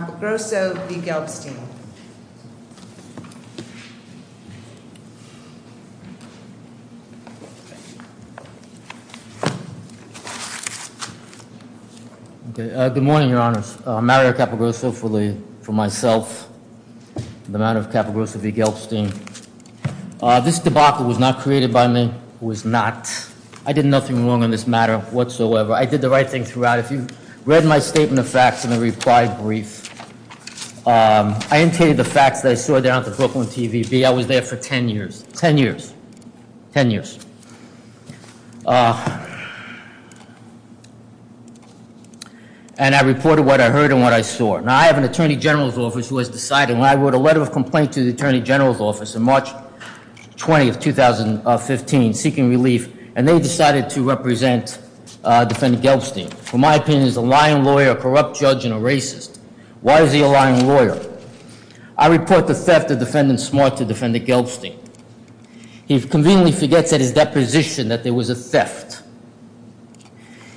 Good morning, your honors. Mario Capogrosso for myself and the matter of Capogrosso v. Gelbstein. This debacle was not created by me, was not. I did nothing wrong in this matter whatsoever. I did the right thing throughout. If you read my statement of facts in the reply brief, I indicated the facts that I saw down at the Brooklyn TV. I was there for 10 years, 10 years, 10 years. And I reported what I heard and what I saw. Now I have an attorney general's office who has decided when I wrote a letter of complaint to the attorney general's office in March 20th, 2015, seeking relief, and they decided to represent Defendant Gelbstein, who in my opinion is a lying lawyer, a corrupt judge, and a racist. Why is he a lying lawyer? I report the theft of Defendant Smart to Defendant Gelbstein. He conveniently forgets at his deposition that there was a theft.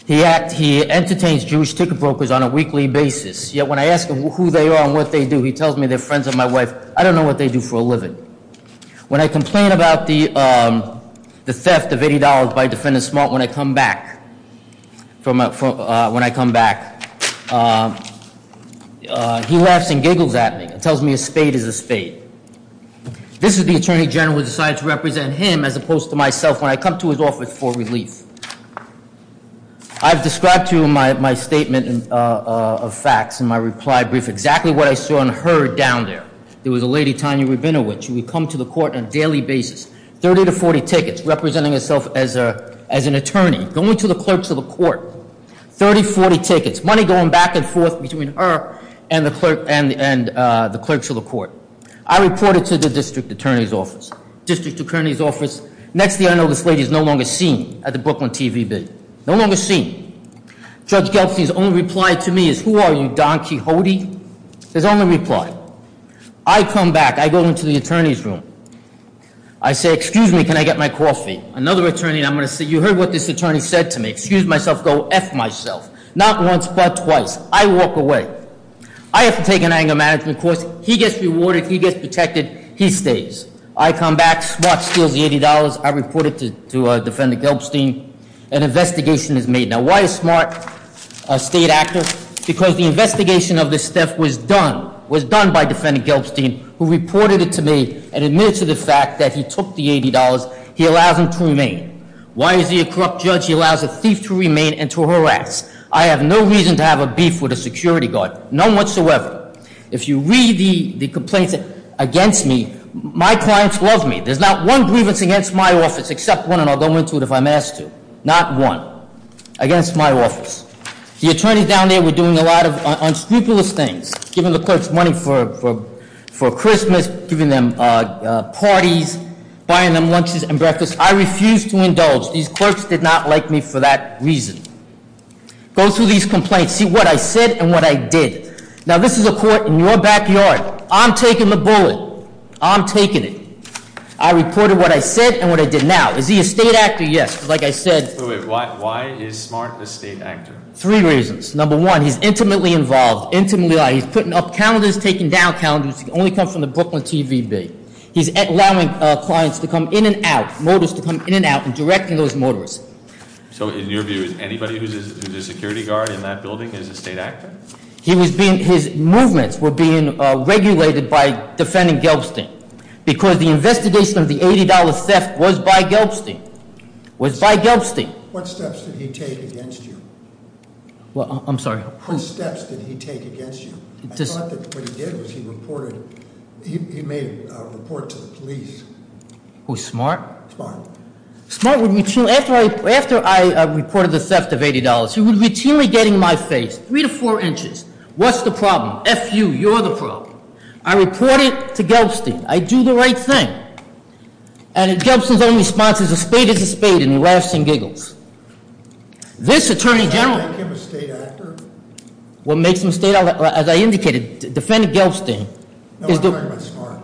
He entertains Jewish ticket brokers on a weekly basis, yet when I ask him who they are and what they do, he tells me they're friends of my wife. I don't know what they do for a living. When I complain about the theft of $80 by Defendant Smart, when I come back from, when I come back, he laughs and giggles at me and tells me a spade is a spade. This is the attorney general who decided to represent him as opposed to myself when I come to his office for relief. I've described to you my statement of facts and my reply brief, exactly what I saw and heard down there. There was a lady, Tanya Rabinowitz, who would come to the court on a daily basis, 30 to 40 tickets, representing herself as an attorney, going to the clerks of the court, 30, 40 tickets, money going back and forth between her and the clerks of the court. I reported to the district attorney's office. Next thing I know, this lady is no longer seen at the Brooklyn TV bid, no longer seen. Judge Gelbstein's only reply to me is, who are you, Don Quixote? His only reply is, excuse me, can I get my coffee? Another attorney, I'm going to say, you heard what this attorney said to me. Excuse myself, go F myself. Not once, but twice. I walk away. I have to take an anger management course. He gets rewarded, he gets protected, he stays. I come back, Smart steals the $80, I report it to Defendant Gelbstein, an investigation is made. Now, why is Smart a state actor? Because the investigation of this theft was done, was done by Defendant Gelbstein, who stole the $80. He allows him to remain. Why is he a corrupt judge? He allows a thief to remain and to harass. I have no reason to have a beef with a security guard, none whatsoever. If you read the complaints against me, my clients love me. There's not one grievance against my office, except one, and I'll go into it if I'm asked to. Not one against my office. The attorneys down there were doing a lot of unscrupulous things, giving the clerks money for Christmas, giving them parties, buying them lunches and breakfasts. I refuse to indulge. These clerks did not like me for that reason. Go through these complaints. See what I said and what I did. Now, this is a court in your backyard. I'm taking the bullet. I'm taking it. I reported what I said and what I did now. Is he a state actor? Yes. Like I said- Wait, wait. Why is Smart a state actor? Three reasons. Number one, he's intimately involved, intimately, he's putting up calendars, taking down clients to come in and out, mortars to come in and out, and directing those mortars. So in your view, is anybody who's a security guard in that building is a state actor? He was being, his movements were being regulated by defending Gelbstein, because the investigation of the $80 theft was by Gelbstein, was by Gelbstein. What steps did he take against you? Well, I'm sorry. What steps did he take against you? I thought that what he did was he reported, he made a report to the Who's Smart? Smart. Smart would, after I reported the theft of $80, he would routinely get in my face, three to four inches. What's the problem? F you, you're the problem. I reported to Gelbstein, I do the right thing. And Gelbstein's only response is a spade is a spade and he laughs and giggles. This Attorney General- Does that make him a state actor? What makes him a state actor, as I indicated, defending Gelbstein- No, I'm talking about Smart.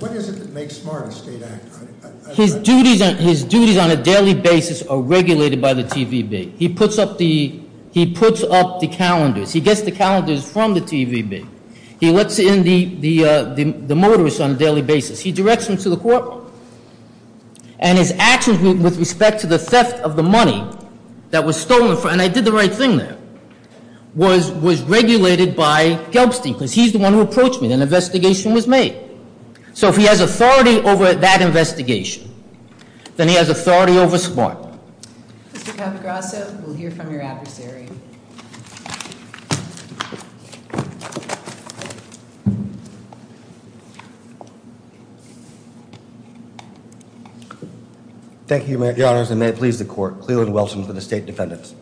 What is it that makes Smart a state actor? His duties on a daily basis are regulated by the TVB. He puts up the, he puts up the calendars. He gets the calendars from the TVB. He lets in the motorists on a daily basis. He directs them to the court. And his actions with respect to the theft of the money that was investigation was made. So if he has authority over that investigation, then he has authority over Smart. Mr. Capagrasso, we'll hear from your adversary. Thank you, Your Honors, and may it please the court. Cleland Wilson for the State Defendants.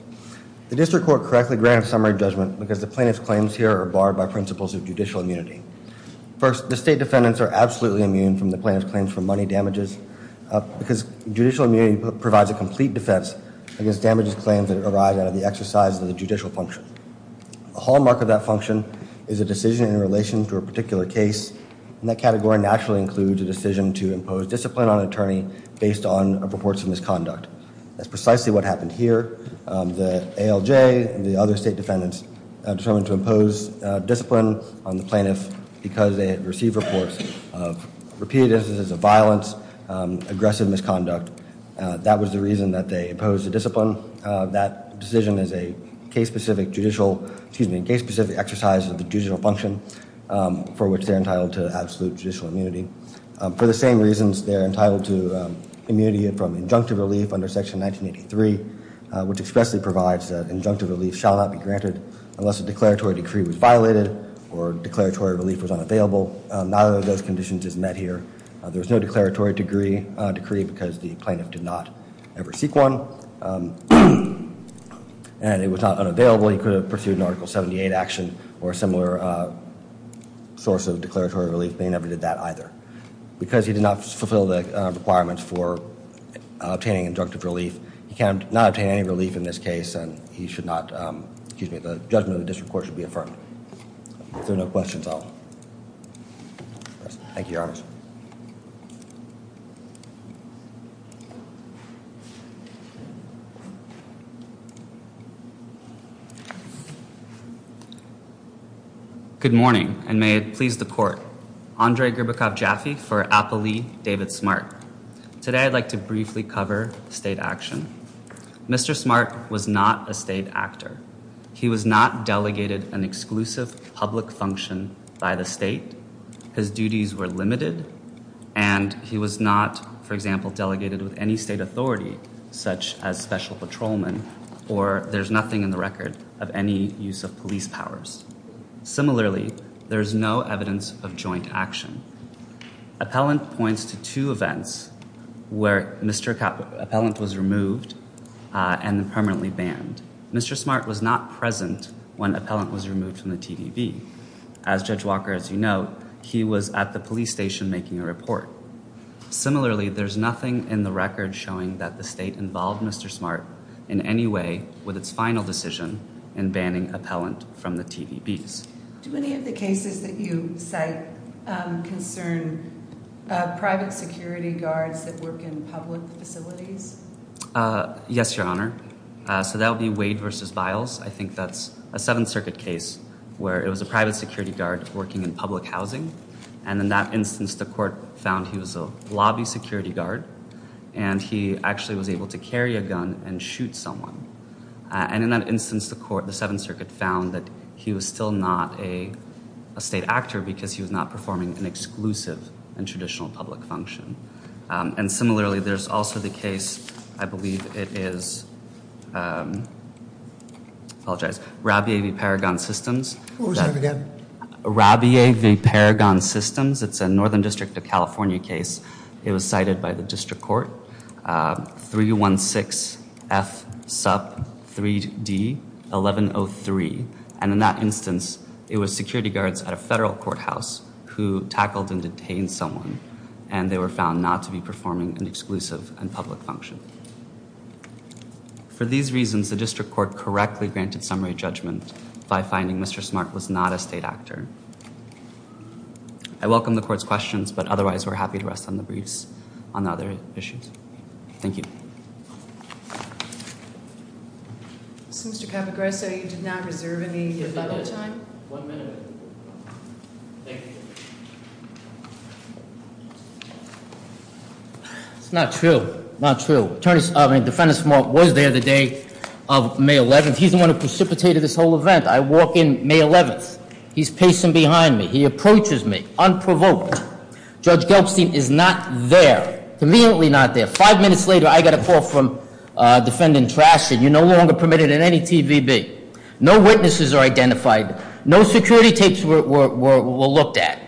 The district court correctly granted summary judgment because the plaintiff's claims here are barred by principles of judicial immunity. First, the State Defendants are absolutely immune from the plaintiff's claims for money damages because judicial immunity provides a complete defense against damages claims that arise out of the exercise of the judicial function. A hallmark of that function is a decision in relation to a particular case. And that category naturally includes a decision to impose discipline on an attorney based on reports of misconduct. That's precisely what happened here. The ALJ and the other State Defendants determined to impose discipline on the plaintiff because they had received reports of repeated instances of violence, aggressive misconduct. That was the reason that they imposed the discipline. That decision is a case-specific judicial, excuse me, case-specific exercise of the judicial function for which they're entitled to absolute judicial immunity. For the same reasons, they're entitled to immunity from injunctive relief under Section 1983 which expressly provides that injunctive relief shall not be granted unless a declaratory decree was violated or declaratory relief was unavailable. Neither of those conditions is met here. There's no declaratory decree because the plaintiff did not ever seek one. And it was not unavailable. He could have pursued an Article 78 action or a similar source of declaratory relief, but he never did that either. Because he did not fulfill the requirements for obtaining injunctive relief, he cannot obtain any relief in this case and he should not, excuse me, the judgment of the district court should be affirmed. If there are no questions, I'll... Good morning, and may it please the court. Andrei Gribakov-Jaffe for Applee David Smart. Today, I'd like to briefly cover state action. Mr. Smart was not a state actor. He was not delegated an exclusive public function by the state. His duties were limited. And he was not, for example, delegated with any state authority such as special patrolman or there's nothing in the record of any use of police powers. Similarly, there's no evidence of joint action. Appellant points to two events where Mr. Appellant was removed and permanently banned. Mr. Smart was not present when Appellant was removed from the TVB. As Judge Walker, as you know, he was at the police station making a report. Similarly, there's nothing in the record showing that the state involved Mr. Smart in any way with its final decision in banning Appellant from the TVBs. Do any of the cases that you cite concern private security guards that work in public facilities? Yes, Your Honor. So that would be Wade v. Biles. I think that's a Seventh Circuit case where it was a private security guard working in public housing. And in that instance, the court found he was a lobby security guard and he actually was able to carry a gun and shoot someone. And in that instance, the court, the Seventh Circuit found that he was still not a state actor because he was not performing an exclusive and traditional public function. And similarly, there's also the case, I believe it is, I apologize, Rabia v. Paragon Systems. What was that again? Rabia v. Paragon Systems. It's a Northern District of California case. It was cited by the district court. 316-F-SUP-3D-1103. And in that instance, it was security guards at a federal courthouse who tackled and detained someone. And they were found not to be performing an exclusive and public function. For these reasons, the district court correctly granted summary judgment by finding Mr. Smart was not a state actor. I welcome the court's questions, but otherwise, we're happy to rest on the briefs on the other issues. Thank you. Mr. Capogrosso, you did not reserve any rebuttal time? One minute. Thank you. It's not true. Not true. Defendant Smart was there the day of May 11th. He's the one who precipitated this whole event. I walk in May 11th. He's pacing behind me. He approaches me, unprovoked. Judge Gelbstein is not there. Conveniently not there. Five minutes later, I get a call from Defendant Trasher. You're no longer permitted in any TVB. No witnesses are identified. No security tapes were looked at.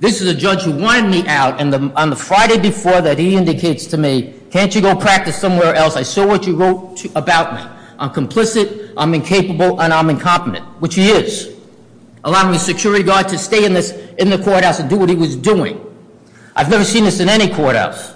This is a judge who wanted me out, and on the Friday before that, he indicates to me, can't you go practice somewhere else? I saw what you wrote about me. I'm complicit, I'm incapable, and I'm incompetent, which he is, allowing the security guard to stay in the courthouse and do what he was doing. I've never seen this in any courthouse.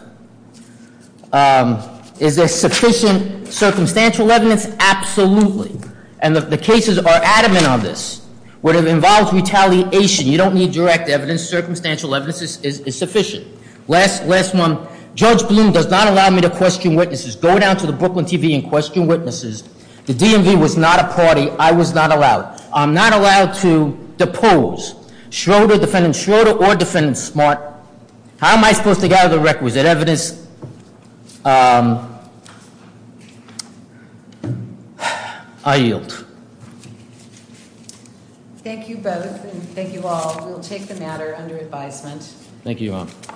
Is there sufficient circumstantial evidence? Absolutely. And the cases are adamant on this. What involves retaliation, you don't need direct evidence. Circumstantial evidence is sufficient. Last one. Judge Bloom does not allow me to question witnesses. Go down to the Brooklyn TV and question witnesses. The DMV was not a party. I was not allowed. I'm not allowed to depose. Defendant Schroeder or Defendant Smart, how am I supposed to gather the records? Is there evidence? I yield. Thank you both, and thank you all. We'll take the matter under advisement. Thank you.